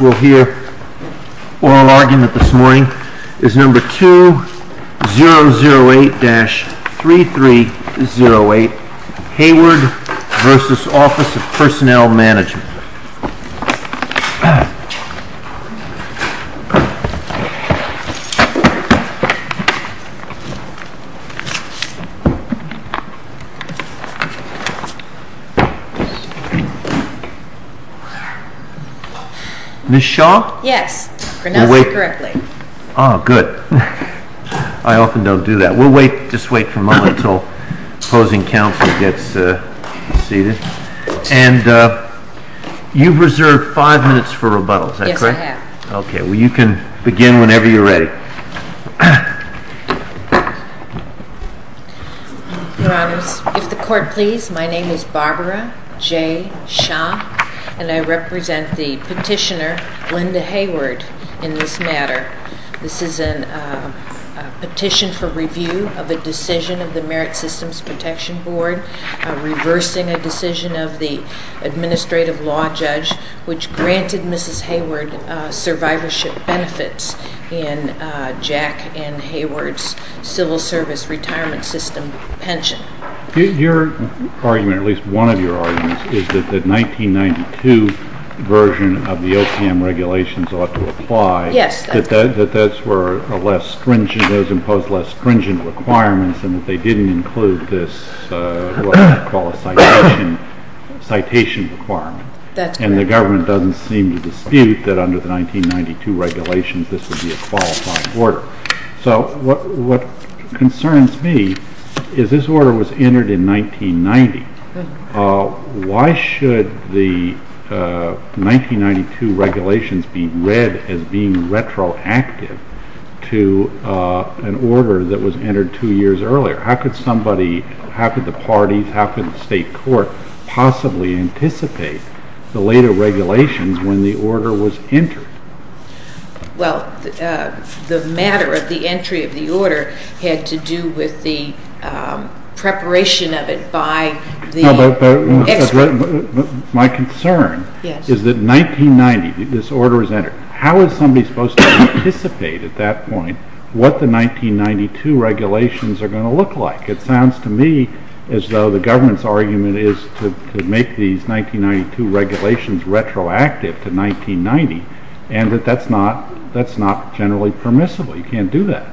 We'll hear oral argument this morning is number 2008-3308, Hayward v. Office of Personnel Management. Ms. Shaw? Yes. I pronounced it correctly. Oh, good. I often don't do that. We'll wait, just wait for a moment until opposing counsel gets seated. And you've reserved five minutes for rebuttal, is that correct? Yes, I have. Okay. Well, you can begin whenever you're ready. Your Honors, if the Court please, my name is Barbara J. Shaw, and I represent the petitioner Linda Hayward in this matter. This is a petition for review of a decision of the Merit Systems Protection Board reversing a decision of the administrative law judge which granted Mrs. Hayward survivorship benefits in Jack N. Hayward's civil service retirement system pension. Your argument, or at least one of your arguments, is that the 1992 version of the OPM regulations ought to apply. Yes. That those were less stringent, those imposed less stringent requirements, and that they didn't include this what I would call a citation requirement. That's correct. And the government doesn't seem to dispute that under the 1992 regulations this would be a qualified order. So what concerns me is this order was entered in 1990. Why should the 1992 regulations be read as being retroactive to an order that was entered two years earlier? How could somebody, how could the parties, how could the state court possibly anticipate the later regulations when the order was entered? Well, the matter of the entry of the order had to do with the preparation of it by the expert. My concern is that 1990 this order was entered. How is somebody supposed to anticipate at that point what the 1992 regulations are going to look like? It sounds to me as though the government's argument is to make these 1992 regulations retroactive to 1990 and that that's not generally permissible. You can't do that.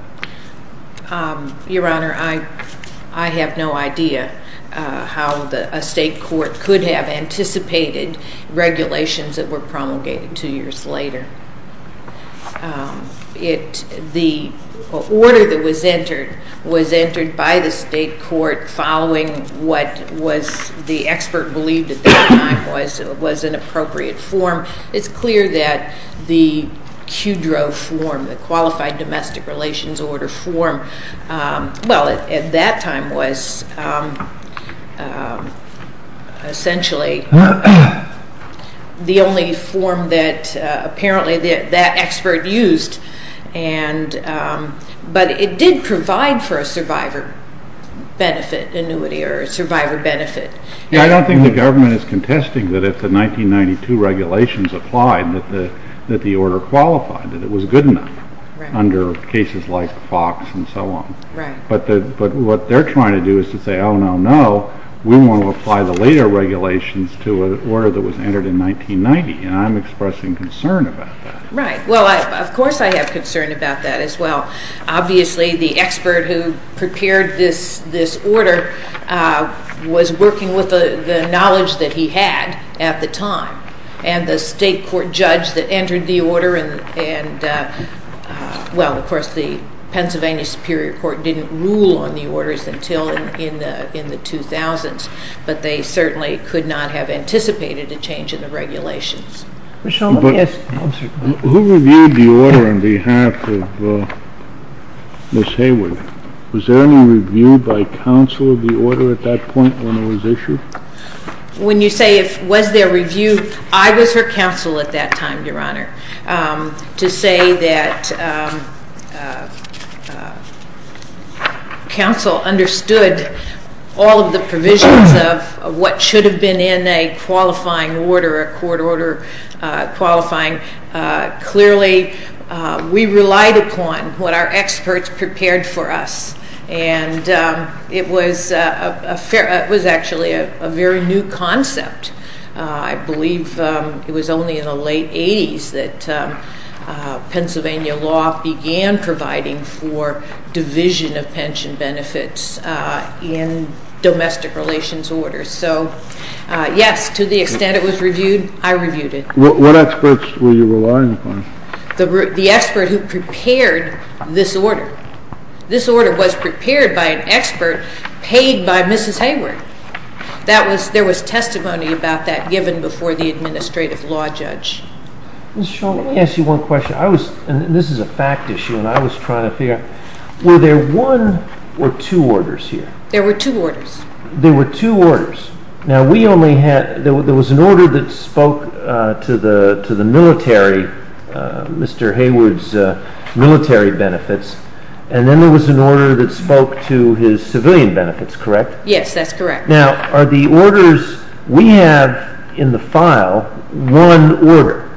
Your Honor, I have no idea how a state court could have anticipated regulations that were promulgated two years later. The order that was entered was entered by the state court following what the expert believed at that time was an appropriate form. It's clear that the QDRO form, the Qualified Domestic Relations Order form, well, at that time was essentially the only form that apparently that expert used, but it did provide for a survivor benefit annuity or a survivor benefit. I don't think the government is contesting that if the 1992 regulations applied that the order qualified, that it was good enough under cases like Fox and so on. But what they're trying to do is to say, oh, no, no, we want to apply the later regulations to an order that was entered in 1990, and I'm expressing concern about that. Right. Well, of course I have concern about that as well. Obviously, the expert who prepared this order was working with the knowledge that he had at the time, and the state court judge that entered the order and, well, of course, the Pennsylvania Superior Court didn't rule on the orders until in the 2000s, but they certainly could not have anticipated a change in the regulations. Who reviewed the order on behalf of Ms. Hayward? Was there any review by counsel of the order at that point when it was issued? When you say was there a review, I was her counsel at that time, Your Honor. To say that counsel understood all of the provisions of what should have been in a qualifying order, a court order qualifying, clearly we relied upon what our experts prepared for us, and it was actually a very new concept. I believe it was only in the late 80s that Pennsylvania law began providing for division of pension benefits in domestic relations orders. So, yes, to the extent it was reviewed, I reviewed it. What experts were you relying upon? The expert who prepared this order. This order was prepared by an expert paid by Mrs. Hayward. There was testimony about that given before the administrative law judge. Ms. Shulman, let me ask you one question. I was, and this is a fact issue, and I was trying to figure out, were there one or two orders here? There were two orders. There were two orders. Now, we only had, there was an order that spoke to the military, Mr. Hayward's military benefits, and then there was an order that spoke to his civilian benefits, correct? Yes, that's correct. Now, are the orders we have in the file one order,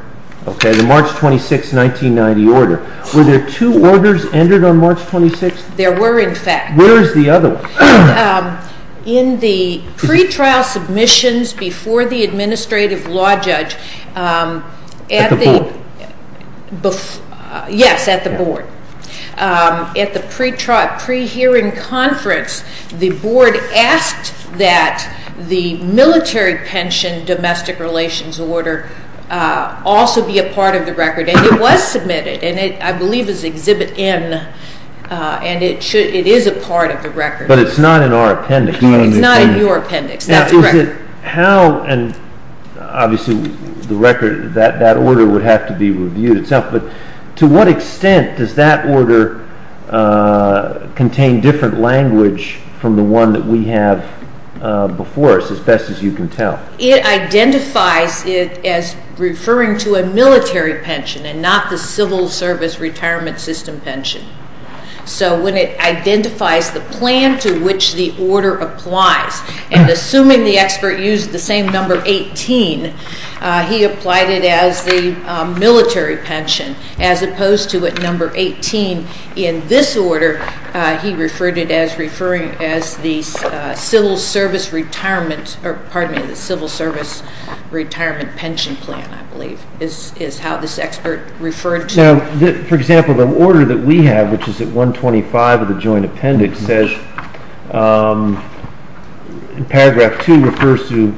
okay, the March 26, 1990 order. Were there two orders entered on March 26? There were, in fact. Where is the other one? In the pretrial submissions before the administrative law judge. At the board? Yes, at the board. At the pre-hearing conference, the board asked that the military pension domestic relations order also be a part of the record, and it was submitted, and I believe it's exhibit N, and it is a part of the record. But it's not in our appendix. It's not in your appendix. That's correct. How, and obviously the record, that order would have to be reviewed itself, but to what extent does that order contain different language from the one that we have before us, as best as you can tell? It identifies it as referring to a military pension and not the civil service retirement system pension. So when it identifies the plan to which the order applies, and assuming the expert used the same number 18, he applied it as the military pension, as opposed to at number 18. In this order, he referred it as the civil service retirement, pardon me, the civil service retirement pension plan, I believe, is how this expert referred to it. Now, for example, the order that we have, which is at 125 of the joint RF2 refers to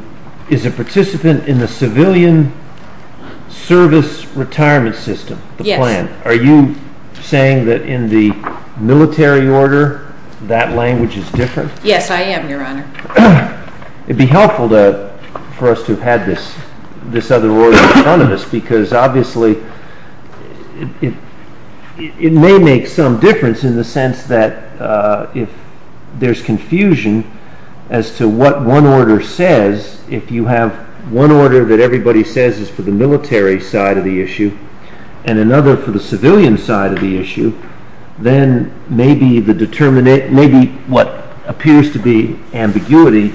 is a participant in the civilian service retirement system, the plan. Yes. Are you saying that in the military order that language is different? Yes, I am, Your Honor. It would be helpful for us to have had this other order in front of us, because obviously it may make some difference in the sense that if there's confusion as to what one order says, if you have one order that everybody says is for the military side of the issue and another for the civilian side of the issue, then maybe what appears to be ambiguity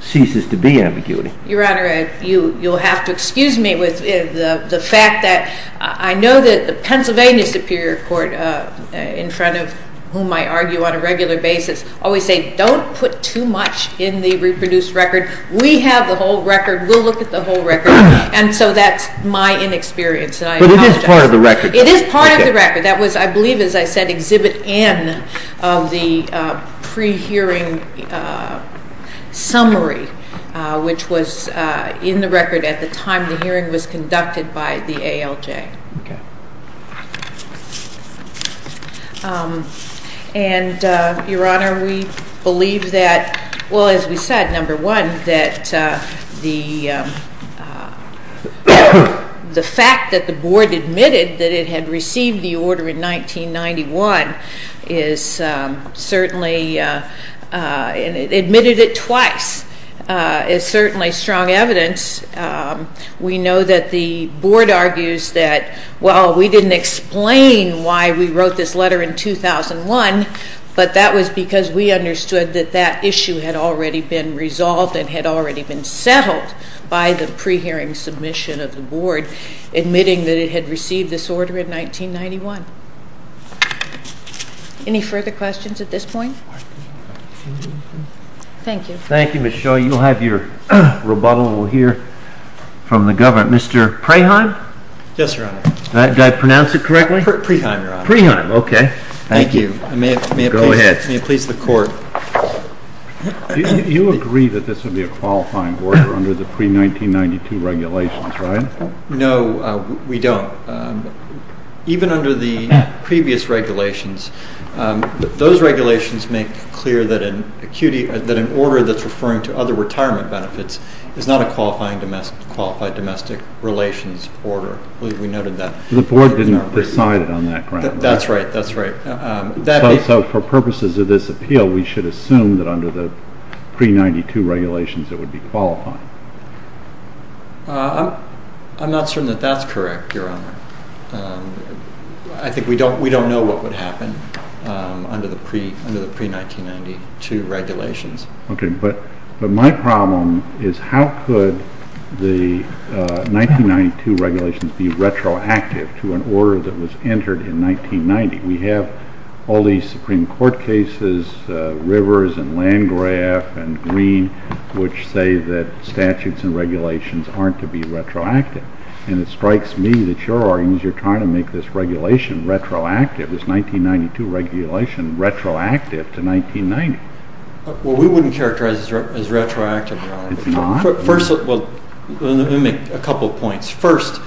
ceases to be ambiguity. Your Honor, you'll have to excuse me with the fact that I know that the Pennsylvania Superior Court, in front of whom I argue on a regular basis, always say don't put too much in the reproduced record. We have the whole record. We'll look at the whole record. And so that's my inexperience, and I apologize. But it is part of the record. It is part of the record. That was, I believe, as I said, Exhibit N of the pre-hearing summary, which was in the record at the time the hearing was conducted by the ALJ. And, Your Honor, we believe that, well, as we said, number one, that the fact that the Board admitted that it had received the order in 1991 is certainly, and it admitted it twice, is certainly strong evidence. We know that the Board argues that, well, we didn't explain why we wrote this letter in 2001, but that was because we understood that that issue had already been resolved and had already been settled by the pre-hearing submission of the Board admitting that it had received this order in 1991. Any further questions at this point? Thank you. Thank you, Ms. Shull. You'll have your rebuttal here from the government. Mr. Preheim? Yes, Your Honor. Did I pronounce it correctly? Preheim, Your Honor. Preheim. Okay. Thank you. Go ahead. May it please the Court. You agree that this would be a qualifying order under the pre-1992 regulations, right? No, we don't. Even under the previous regulations, those regulations make clear that an order that's referring to other retirement benefits is not a qualified domestic relations order. I believe we noted that. The Board didn't decide it on that ground, right? That's right. That's right. So for purposes of this appeal, we should assume that under the pre-1992 regulations it would be qualifying? I'm not certain that that's correct, Your Honor. I think we don't know what would happen under the pre-1992 regulations. Okay. But my problem is how could the 1992 regulations be retroactive to an order that was entered in 1990? We have all these Supreme Court cases, Rivers and Landgraf and Green, which say that statutes and regulations aren't to be retroactive. And it strikes me that your argument is you're trying to make this regulation retroactive, this 1992 regulation retroactive to 1990. Well, we wouldn't characterize it as retroactive, Your Honor. It's not? Well, let me make a couple of points. First,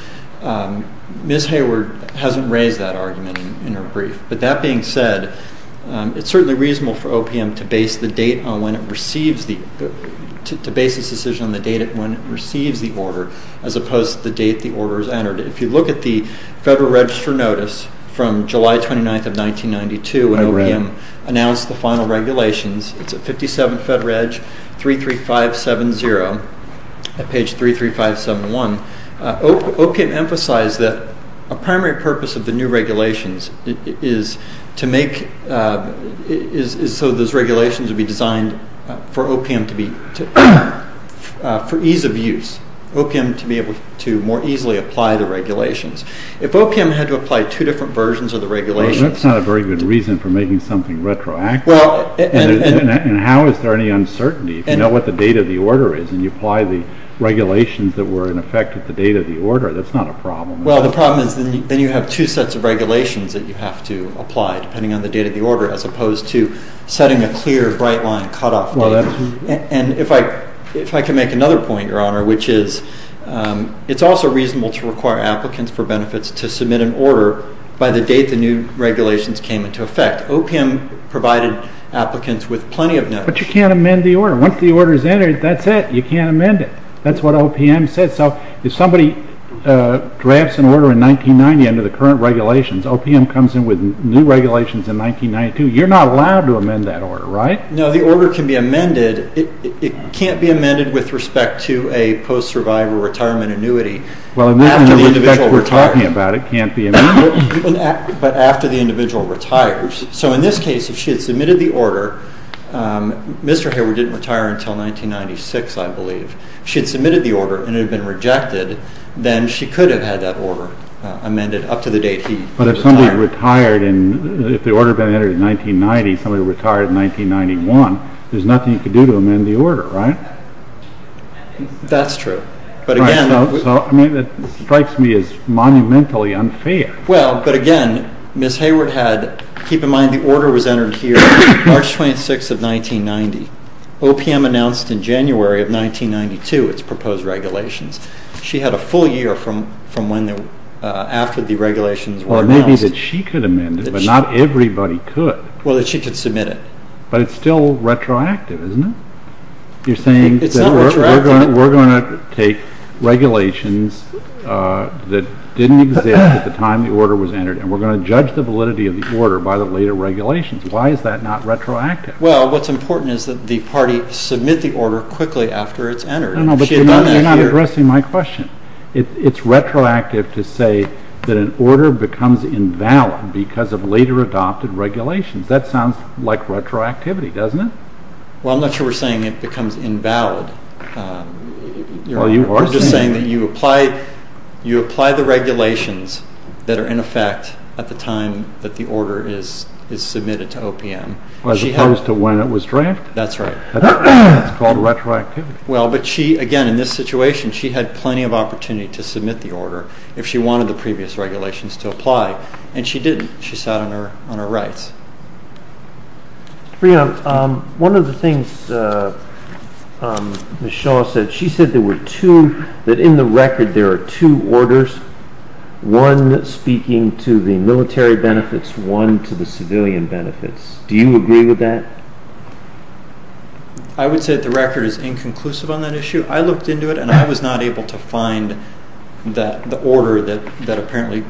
Ms. Hayward hasn't raised that argument in her brief. But that being said, it's certainly reasonable for OPM to base this decision on the date when it receives the order as opposed to the date the order is entered. If you look at the Federal Register notice from July 29th of 1992 when OPM announced the final regulations, it's at 57 FEDREG 33570 at page 33571, OPM emphasized that a primary purpose of the new regulations is to make so those regulations would be designed for ease of use, OPM to be able to more easily apply the regulations. If OPM had to apply two different versions of the regulations That's not a very good reason for making something retroactive. And how is there any uncertainty? If you know what the date of the order is and you apply the regulations that were in effect at the date of the order, that's not a problem. Well, the problem is then you have two sets of regulations that you have to apply depending on the date of the order as opposed to setting a clear, bright-line cutoff date. And if I can make another point, Your Honor, which is it's also reasonable to require applicants for benefits to submit an order by the date the new regulations came into effect. OPM provided applicants with plenty of benefits. But you can't amend the order. Once the order is entered, that's it. You can't amend it. That's what OPM said. So if somebody drafts an order in 1990 under the current regulations, OPM comes in with new regulations in 1992. You're not allowed to amend that order, right? No, the order can be amended. It can't be amended with respect to a post-survivor retirement annuity. Well, in effect, we're talking about it can't be amended. But after the individual retires. So in this case, if she had submitted the order, Mr. Hayward didn't retire until 1996, I believe. If she had submitted the order and it had been rejected, then she could have had that order amended up to the date he retired. But if somebody retired and if the order had been entered in 1990, somebody retired in 1991, there's nothing you can do to amend the order, right? That's true. It strikes me as monumentally unfair. Well, but again, Ms. Hayward had, keep in mind the order was entered here March 26 of 1990. OPM announced in January of 1992 its proposed regulations. She had a full year after the regulations were announced. Well, it may be that she could amend it, but not everybody could. Well, that she could submit it. But it's still retroactive, isn't it? It's not retroactive. We're going to take regulations that didn't exist at the time the order was entered and we're going to judge the validity of the order by the later regulations. Why is that not retroactive? Well, what's important is that the party submit the order quickly after it's entered. No, no, but you're not addressing my question. It's retroactive to say that an order becomes invalid because of later adopted regulations. That sounds like retroactivity, doesn't it? Well, I'm not sure we're saying it becomes invalid. We're just saying that you apply the regulations that are in effect at the time that the order is submitted to OPM. As opposed to when it was drafted? That's right. That's called retroactivity. Well, but she, again, in this situation, she had plenty of opportunity to submit the order if she wanted the previous regulations to apply, and she didn't. She sat on her rights. One of the things Ms. Shaw said, she said that in the record there are two orders, one speaking to the military benefits, one to the civilian benefits. Do you agree with that? I would say that the record is inconclusive on that issue. I looked into it, and I was not able to find the order that apparently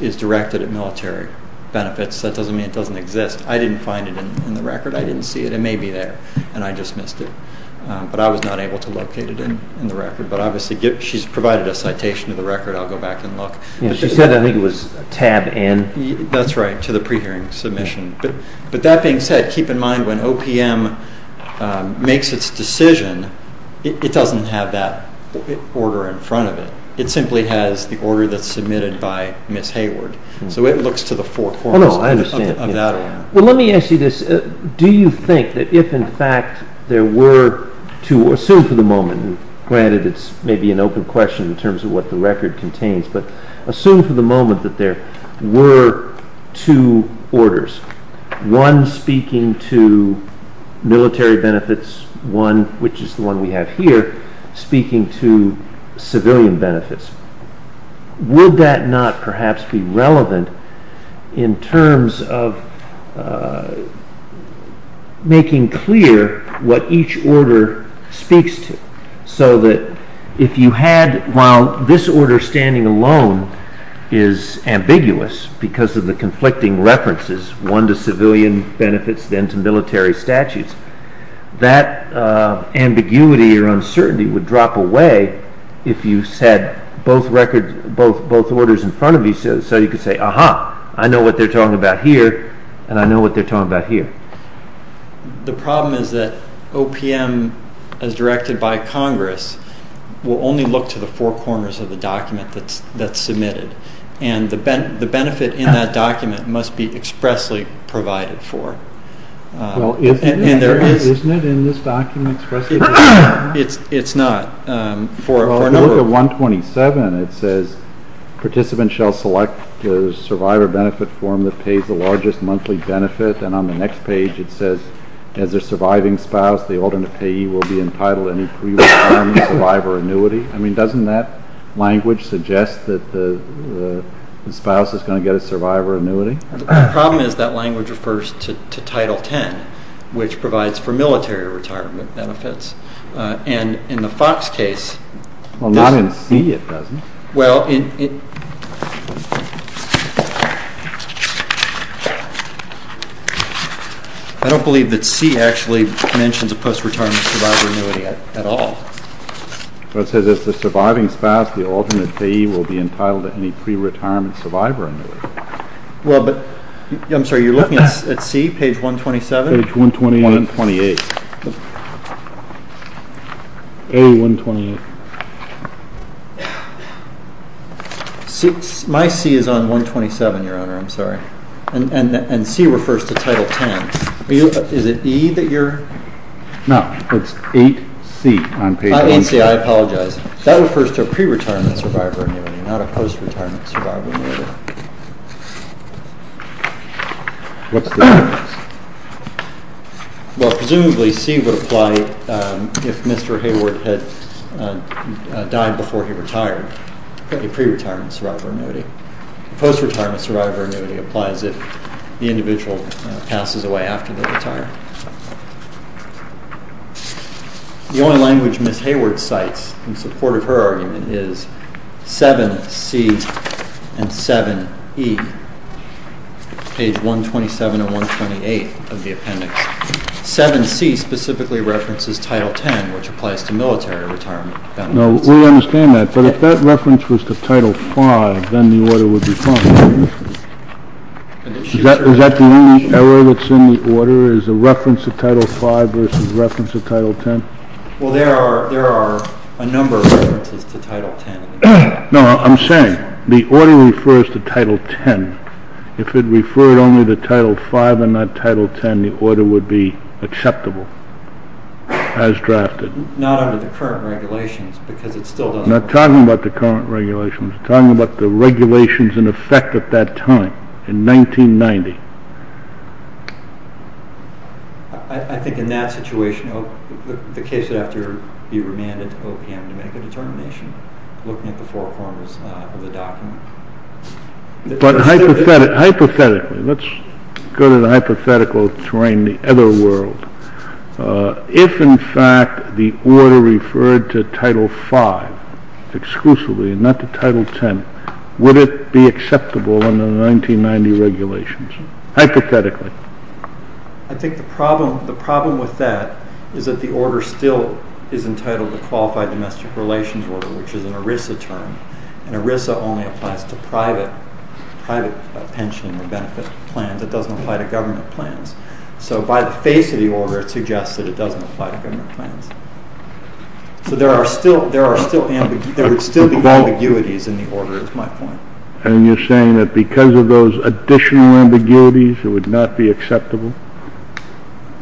is directed at military benefits. That doesn't mean it doesn't exist. I didn't find it in the record. I didn't see it. It may be there, and I just missed it. But I was not able to locate it in the record. But obviously she's provided a citation to the record. I'll go back and look. She said I think it was tab N. That's right, to the pre-hearing submission. But that being said, keep in mind when OPM makes its decision, it doesn't have that order in front of it. It simply has the order that's submitted by Ms. Hayward. So it looks to the fore. Oh, no, I understand. Well, let me ask you this. Do you think that if, in fact, there were two orders, assume for the moment, and granted it's maybe an open question in terms of what the record contains, but assume for the moment that there were two orders, one speaking to military benefits, one, which is the one we have here, speaking to civilian benefits. Would that not perhaps be relevant in terms of making clear what each order speaks to? So that if you had, while this order standing alone is ambiguous because of the conflicting references, one to civilian benefits, then to military statutes, that ambiguity or uncertainty would drop away if you said both records, both orders in front of you so you could say, Aha, I know what they're talking about here, and I know what they're talking about here. The problem is that OPM, as directed by Congress, will only look to the four corners of the document that's submitted, and the benefit in that document must be expressly provided for. Well, isn't it in this document expressly provided? It's not. Well, if you look at 127, it says, Participants shall select the survivor benefit form that pays the largest monthly benefit, and on the next page it says, As a surviving spouse, the alternate payee will be entitled to any pre-return survivor annuity. I mean, doesn't that language suggest that the spouse is going to get a survivor annuity? The problem is that language refers to Title X, which provides for military retirement benefits, and in the Fox case, Well, not in C, it doesn't. Well, I don't believe that C actually mentions a post-retirement survivor annuity at all. It says, As a surviving spouse, the alternate payee will be entitled to any pre-retirement survivor annuity. Well, but, I'm sorry, you're looking at C, page 127? Page 128. A, 128. My C is on 127, Your Honor, I'm sorry. And C refers to Title X. Is it E that you're? No, it's 8C on page 128. Oh, 8C, I apologize. That refers to a pre-retirement survivor annuity, not a post-retirement survivor annuity. What's the difference? Well, presumably, C would apply if Mr. Hayward had died before he retired, a pre-retirement survivor annuity. A post-retirement survivor annuity applies if the individual passes away after they retire. The only language Ms. Hayward cites in support of her argument is 7C and 7E, page 127 and 128 of the appendix. 7C specifically references Title X, which applies to military retirement benefits. No, we understand that, but if that reference was to Title V, then the order would be fine. Is that the only error that's in the order? Is the reference to Title V versus the reference to Title X? Well, there are a number of references to Title X. No, I'm saying the order refers to Title X. If it referred only to Title V and not Title X, the order would be acceptable as drafted. Not under the current regulations because it still doesn't work. I'm not talking about the current regulations. I'm talking about the regulations in effect at that time, in 1990. I think in that situation, the case would have to be remanded to OPM to make a determination, looking at the four corners of the document. But hypothetically, let's go to the hypothetical terrain, the other world. If, in fact, the order referred to Title V exclusively and not to Title X, would it be acceptable under the 1990 regulations, hypothetically? I think the problem with that is that the order still is entitled the Qualified Domestic Relations Order, which is an ERISA term, and ERISA only applies to private pension and benefit plans. It doesn't apply to government plans. So by the face of the order, it suggests that it doesn't apply to government plans. So there would still be ambiguities in the order, is my point. And you're saying that because of those additional ambiguities, it would not be acceptable?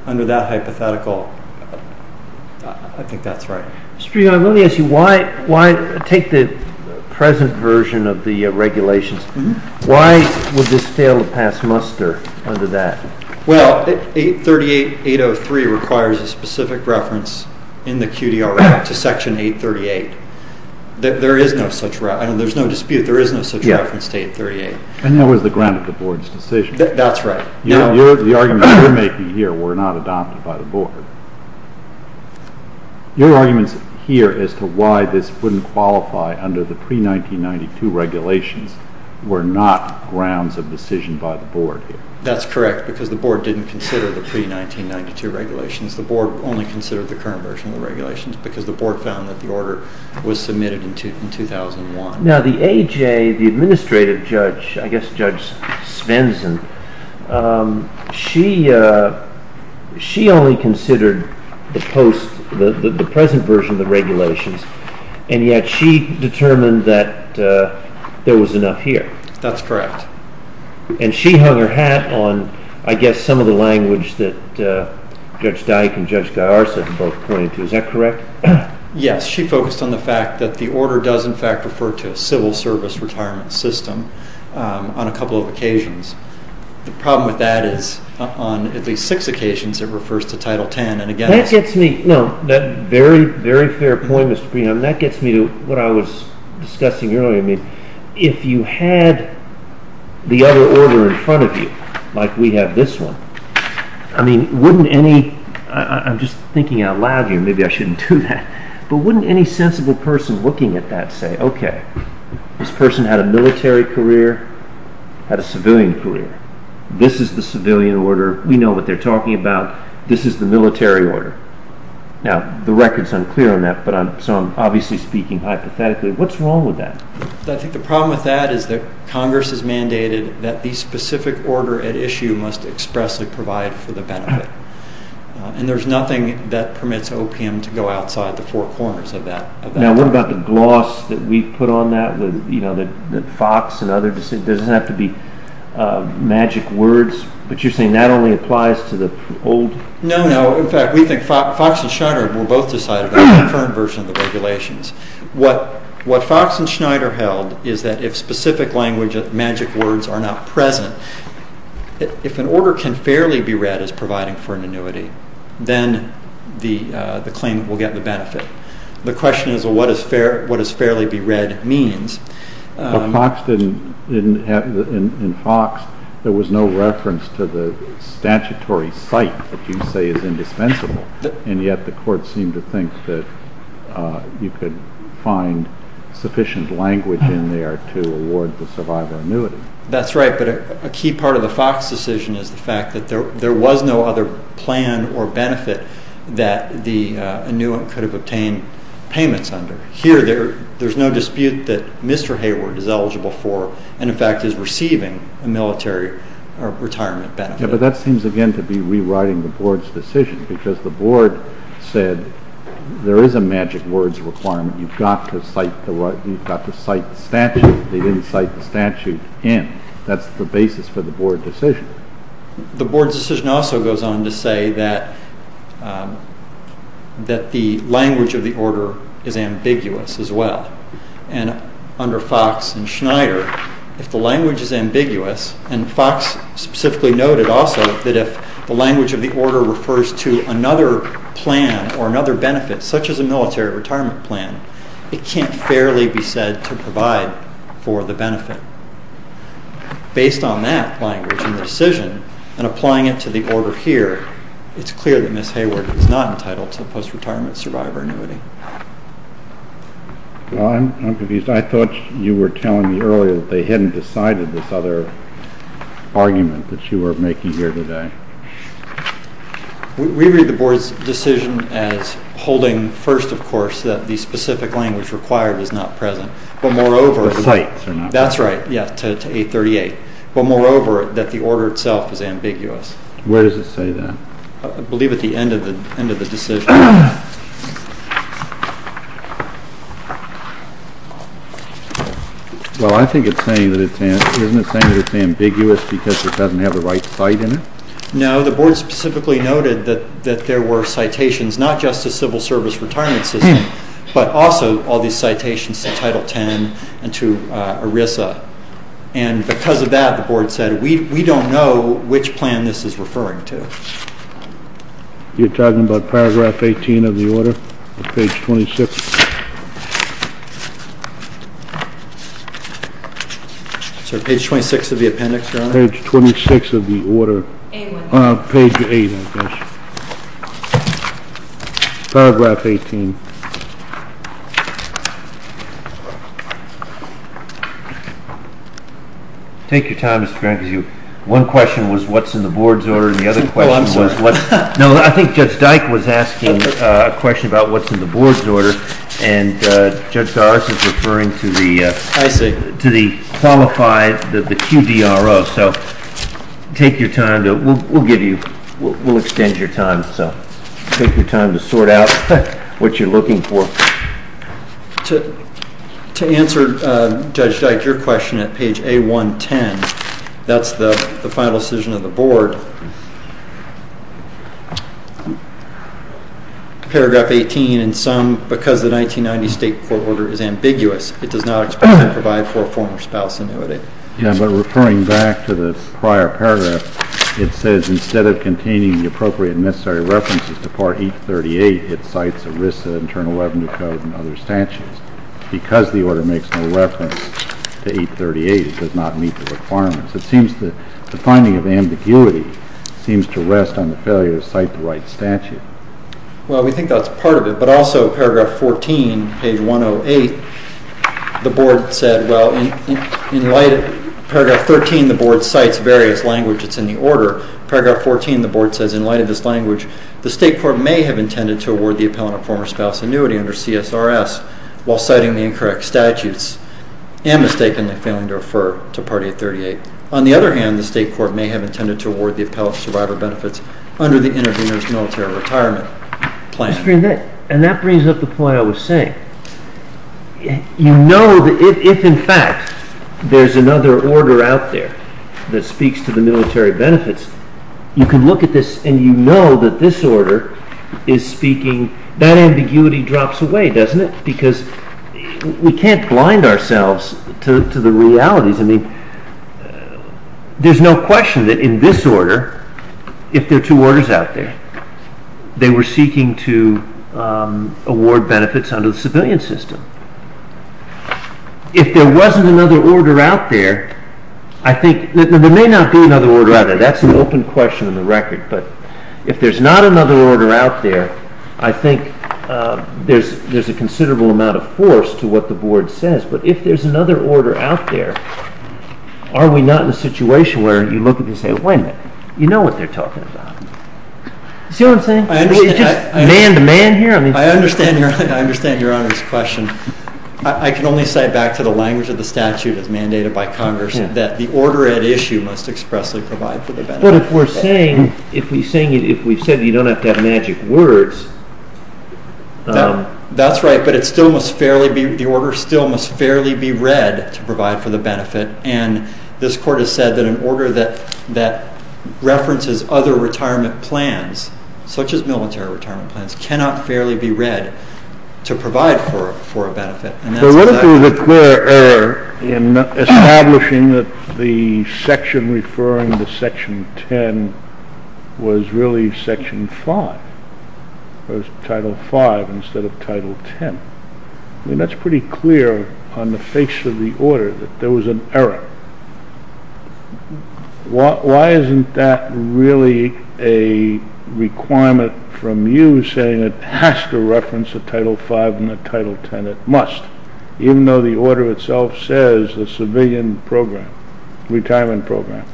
Under that hypothetical, I think that's right. Mr. Fugate, let me ask you, take the present version of the regulations. Why would this fail to pass muster under that? Well, 838.803 requires a specific reference in the QDR Act to Section 838. There is no such reference. I know there's no dispute. There is no such reference to 838. And that was the ground of the Board's decision. That's right. The arguments you're making here were not adopted by the Board. Your arguments here as to why this wouldn't qualify under the pre-1992 regulations were not grounds of decision by the Board here. That's correct, because the Board didn't consider the pre-1992 regulations. The Board only considered the current version of the regulations because the Board found that the order was submitted in 2001. Now the AJ, the administrative judge, I guess Judge Svensson, she only considered the present version of the regulations, and yet she determined that there was enough here. That's correct. And she hung her hat on, I guess, some of the language that Judge Dyke and Judge Garza both pointed to. Is that correct? Yes. She focused on the fact that the order does, in fact, refer to a civil service retirement system on a couple of occasions. The problem with that is on at least six occasions it refers to Title X. That gets me. No. That's a very, very fair point, Mr. Preon. That gets me to what I was discussing earlier. If you had the other order in front of you, like we have this one, I'm just thinking out loud here, maybe I shouldn't do that, but wouldn't any sensible person looking at that say, okay, this person had a military career, had a civilian career. This is the civilian order. We know what they're talking about. This is the military order. Now the record's unclear on that, so I'm obviously speaking hypothetically. What's wrong with that? I think the problem with that is that Congress has mandated that the specific order at issue must expressly provide for the benefit, and there's nothing that permits opium to go outside the four corners of that. Now what about the gloss that we've put on that, that Fox and others, there doesn't have to be magic words, but you're saying that only applies to the old? No, no. In fact, we think Fox and Schneider were both decided on the current version of the regulations. What Fox and Schneider held is that if specific language, magic words are not present, if an order can fairly be read as providing for an annuity, then the claimant will get the benefit. The question is, well, what does fairly be read mean? In Fox, there was no reference to the statutory site that you say is indispensable, and yet the court seemed to think that you could find sufficient language in there to award the survivor annuity. That's right, but a key part of the Fox decision is the fact that there was no other plan or benefit that the annuitant could have obtained payments under. Here, there's no dispute that Mr. Hayward is eligible for, and in fact is receiving a military retirement benefit. Yeah, but that seems again to be rewriting the board's decision, because the board said there is a magic words requirement. You've got to cite the statute. They didn't cite the statute in. That's the basis for the board decision. The board's decision also goes on to say that the language of the order is ambiguous as well. Under Fox and Schneider, if the language is ambiguous, and Fox specifically noted also that if the language of the order refers to another plan or another benefit, such as a military retirement plan, it can't fairly be said to provide for the benefit. Based on that language in the decision and applying it to the order here, it's clear that Ms. Hayward is not entitled to a post-retirement survivor annuity. I'm confused. I thought you were telling me earlier that they hadn't decided this other argument that you were making here today. We read the board's decision as holding first, of course, that the specific language required is not present, but moreover. The cites are not present. That's right, yes, to 838. But moreover, that the order itself is ambiguous. Where does it say that? I believe at the end of the decision. Well, I think it's saying that it's ambiguous because it doesn't have the right cite in it. No, the board specifically noted that there were citations not just to civil service retirement system, but also all these citations to Title X and to ERISA. And because of that, the board said we don't know which plan this is referring to. You're talking about Paragraph 8? Paragraph 18 of the order. Page 26. Sorry, page 26 of the appendix, Your Honor. Page 26 of the order. Page 8, I guess. Paragraph 18. Take your time, Mr. Grant, because one question was what's in the board's order, and the other question was what's in the board's order. I'm asking a question about what's in the board's order, and Judge Doris is referring to the qualified, the QDRO. So take your time. We'll extend your time, so take your time to sort out what you're looking for. To answer, Judge Dyke, your question at page A110, that's the final decision of the board. Paragraph 18, in sum, because the 1990 state court order is ambiguous, it does not provide for a former spouse annuity. Yeah, but referring back to the prior paragraph, it says instead of containing the appropriate and necessary references to Part 838, it cites ERISA, Internal Revenue Code, and other statutes. Because the order makes no reference to 838, it does not meet the requirements. It seems that the finding of ambiguity seems to rest on the failure to cite the right statute. Well, we think that's part of it, but also paragraph 14, page 108, the board said, well, in light of paragraph 13, the board cites various languages in the order. Paragraph 14, the board says, in light of this language, the state court may have intended to award the appellant a former spouse annuity under CSRS while citing the incorrect statutes and mistakenly failing to refer to Part 838. On the other hand, the state court may have intended to award the appellant survivor benefits under the intervener's military retirement plan. And that brings up the point I was saying. You know that if, in fact, there's another order out there that speaks to the military benefits, you can look at this and you know that this order is speaking. That ambiguity drops away, doesn't it? Because we can't blind ourselves to the realities. I mean, there's no question that in this order, if there are two orders out there, they were seeking to award benefits under the civilian system. If there wasn't another order out there, I think there may not be another order out there. That's an open question in the record. But if there's not another order out there, I think there's a considerable amount of force to what the board says. But if there's another order out there, are we not in a situation where you look at this and say, wait a minute, you know what they're talking about. You see what I'm saying? It's just man-to-man here. I understand Your Honor's question. I can only say back to the language of the statute as mandated by Congress that the order at issue must expressly provide for the benefit. But if we're saying, if we've said you don't have to have magic words… That's right, but the order still must fairly be read to provide for the benefit. And this Court has said that an order that references other retirement plans, such as military retirement plans, cannot fairly be read to provide for a benefit. There really is a clear error in establishing that the section referring to Section 10 was really Section 5 or Title 5 instead of Title 10. That's pretty clear on the face of the order that there was an error. Why isn't that really a requirement from you saying it has to reference a Title 5 and a Title 10? It must, even though the order itself says a civilian program, retirement program.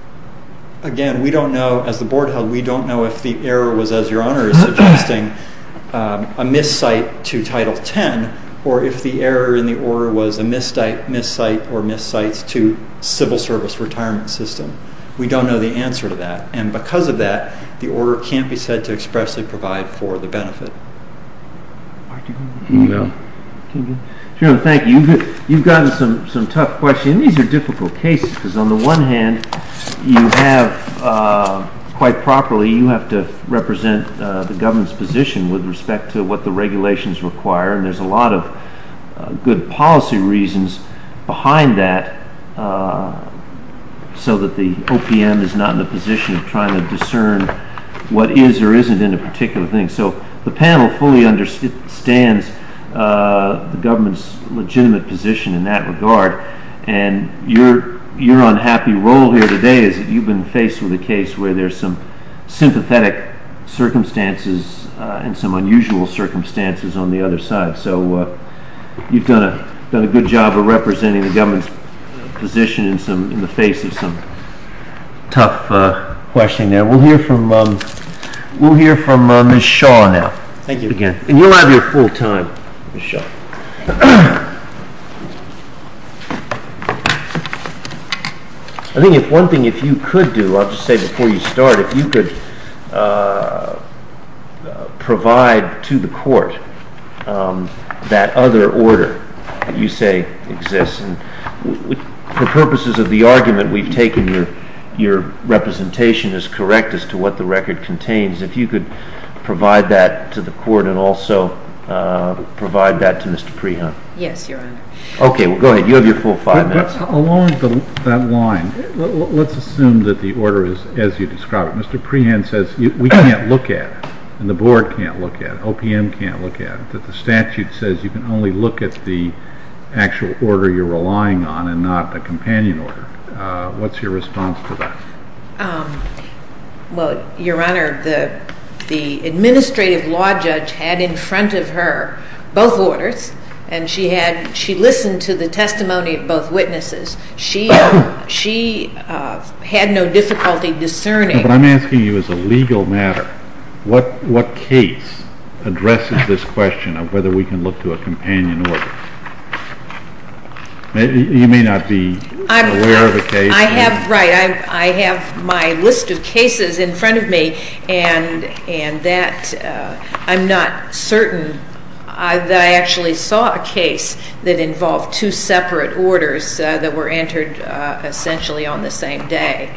Again, we don't know, as the board held, we don't know if the error was, as Your Honor is suggesting, a miscite to Title 10, or if the error in the order was a miscite or miscites to civil service retirement system. We don't know the answer to that. And because of that, the order can't be said to expressly provide for the benefit. Thank you. You've gotten some tough questions. These are difficult cases because, on the one hand, you have, quite properly, you have to represent the government's position with respect to what the regulations require, and there's a lot of good policy reasons behind that so that the OPM is not in the position of trying to discern what is or isn't in a particular thing. So the panel fully understands the government's legitimate position in that regard, and your unhappy role here today is that you've been faced with a case where there's some sympathetic circumstances and some unusual circumstances on the other side. So you've done a good job of representing the government's position in the face of some tough questioning there. We'll hear from Ms. Shaw now. Thank you again. And you'll have your full time, Ms. Shaw. I think if one thing if you could do, I'll just say before you start, if you could provide to the court that other order that you say exists, and for purposes of the argument we've taken, your representation is correct as to what the record contains. If you could provide that to the court and also provide that to Mr. Prehan. Yes, Your Honor. Okay, well, go ahead. You have your full five minutes. Along that line, let's assume that the order is as you describe it. Mr. Prehan says we can't look at it, and the board can't look at it, OPM can't look at it, that the statute says you can only look at the actual order you're relying on and not the companion order. What's your response to that? Well, Your Honor, the administrative law judge had in front of her both orders, and she listened to the testimony of both witnesses. She had no difficulty discerning. Your Honor, what I'm asking you is a legal matter. What case addresses this question of whether we can look to a companion order? You may not be aware of a case. I have, right, I have my list of cases in front of me, and that I'm not certain that I actually saw a case that involved two separate orders that were entered essentially on the same day.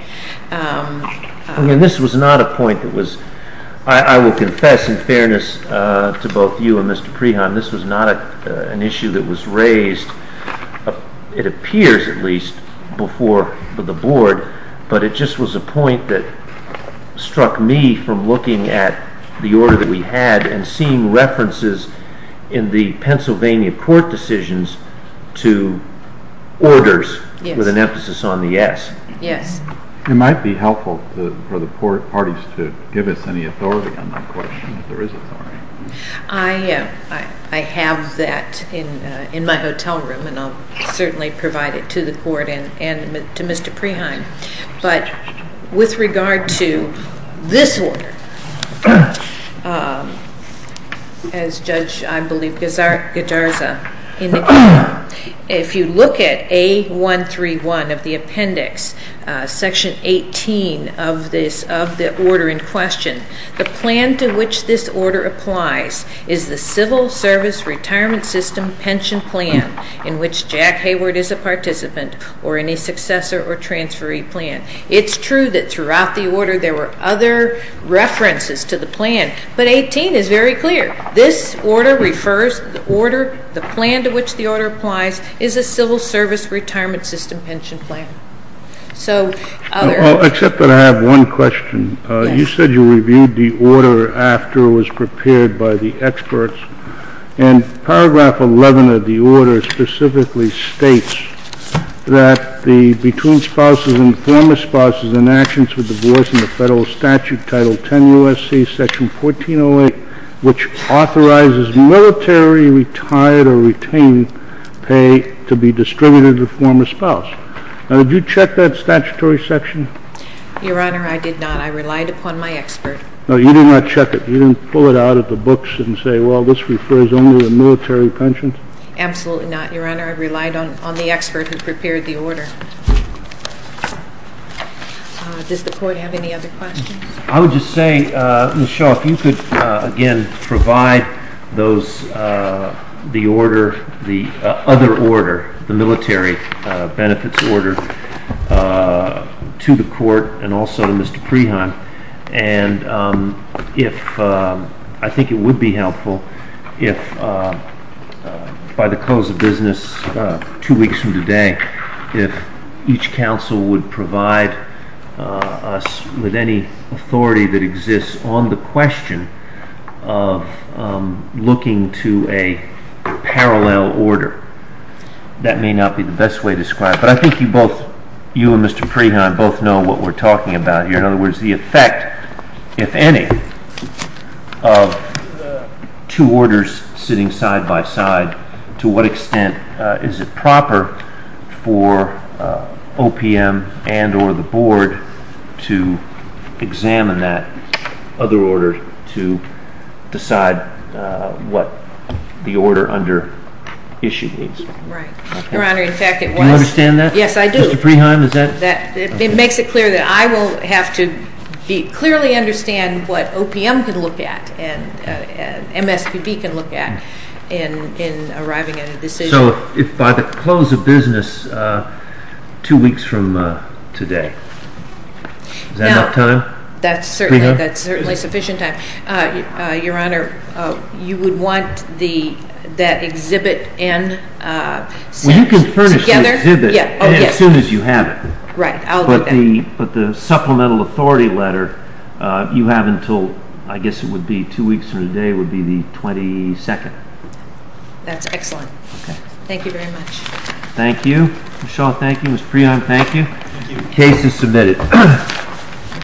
I mean, this was not a point that was, I will confess in fairness to both you and Mr. Prehan, this was not an issue that was raised, it appears at least, before the board, but it just was a point that struck me from looking at the order that we had and seeing references in the Pennsylvania court decisions to orders with an emphasis on the S. Yes. It might be helpful for the parties to give us any authority on that question, if there is authority. I have that in my hotel room, and I'll certainly provide it to the court and to Mr. Prehan. But with regard to this order, as Judge, I believe, Gajarza indicated, if you look at A131 of the appendix, section 18 of the order in question, the plan to which this order applies is the civil service retirement system pension plan in which Jack Hayward is a participant or any successor or transferee plan. It's true that throughout the order there were other references to the plan, but 18 is very clear. This order refers to the order, the plan to which the order applies, is a civil service retirement system pension plan. Except that I have one question. You said you reviewed the order after it was prepared by the experts, and paragraph 11 of the order specifically states that the between spouses and former spouses in actions for divorce in the federal statute, title 10 U.S.C., section 1408, which authorizes military retired or retained pay to be distributed to the former spouse. Now, did you check that statutory section? Your Honor, I did not. I relied upon my expert. No, you did not check it. You didn't pull it out of the books and say, well, this refers only to military pensions? Absolutely not, Your Honor. I relied on the expert who prepared the order. Does the Court have any other questions? I would just say, Ms. Shaw, if you could, again, provide the other order, the military benefits order, to the Court and also to Mr. Preheim. And I think it would be helpful if, by the close of business two weeks from today, if each counsel would provide us with any authority that exists on the question of looking to a parallel order. That may not be the best way to describe it. But I think you both, you and Mr. Preheim, both know what we're talking about here. In other words, the effect, if any, of two orders sitting side by side, to what extent is it proper for OPM and or the Board to examine that other order to decide what the order under issue is? Right. Your Honor, in fact, it was. Do you understand that? Yes, I do. Mr. Preheim, is that? It makes it clear that I will have to clearly understand what OPM can look at and MSPB can look at in arriving at a decision. So if by the close of business two weeks from today, is that enough time? That's certainly sufficient time. Your Honor, you would want that exhibit N set together? As soon as you have it. Right. I'll do that. But the supplemental authority letter you have until, I guess it would be two weeks from today, would be the 22nd. That's excellent. Thank you very much. Thank you. Ms. Shaw, thank you. Ms. Preheim, thank you. The case is submitted.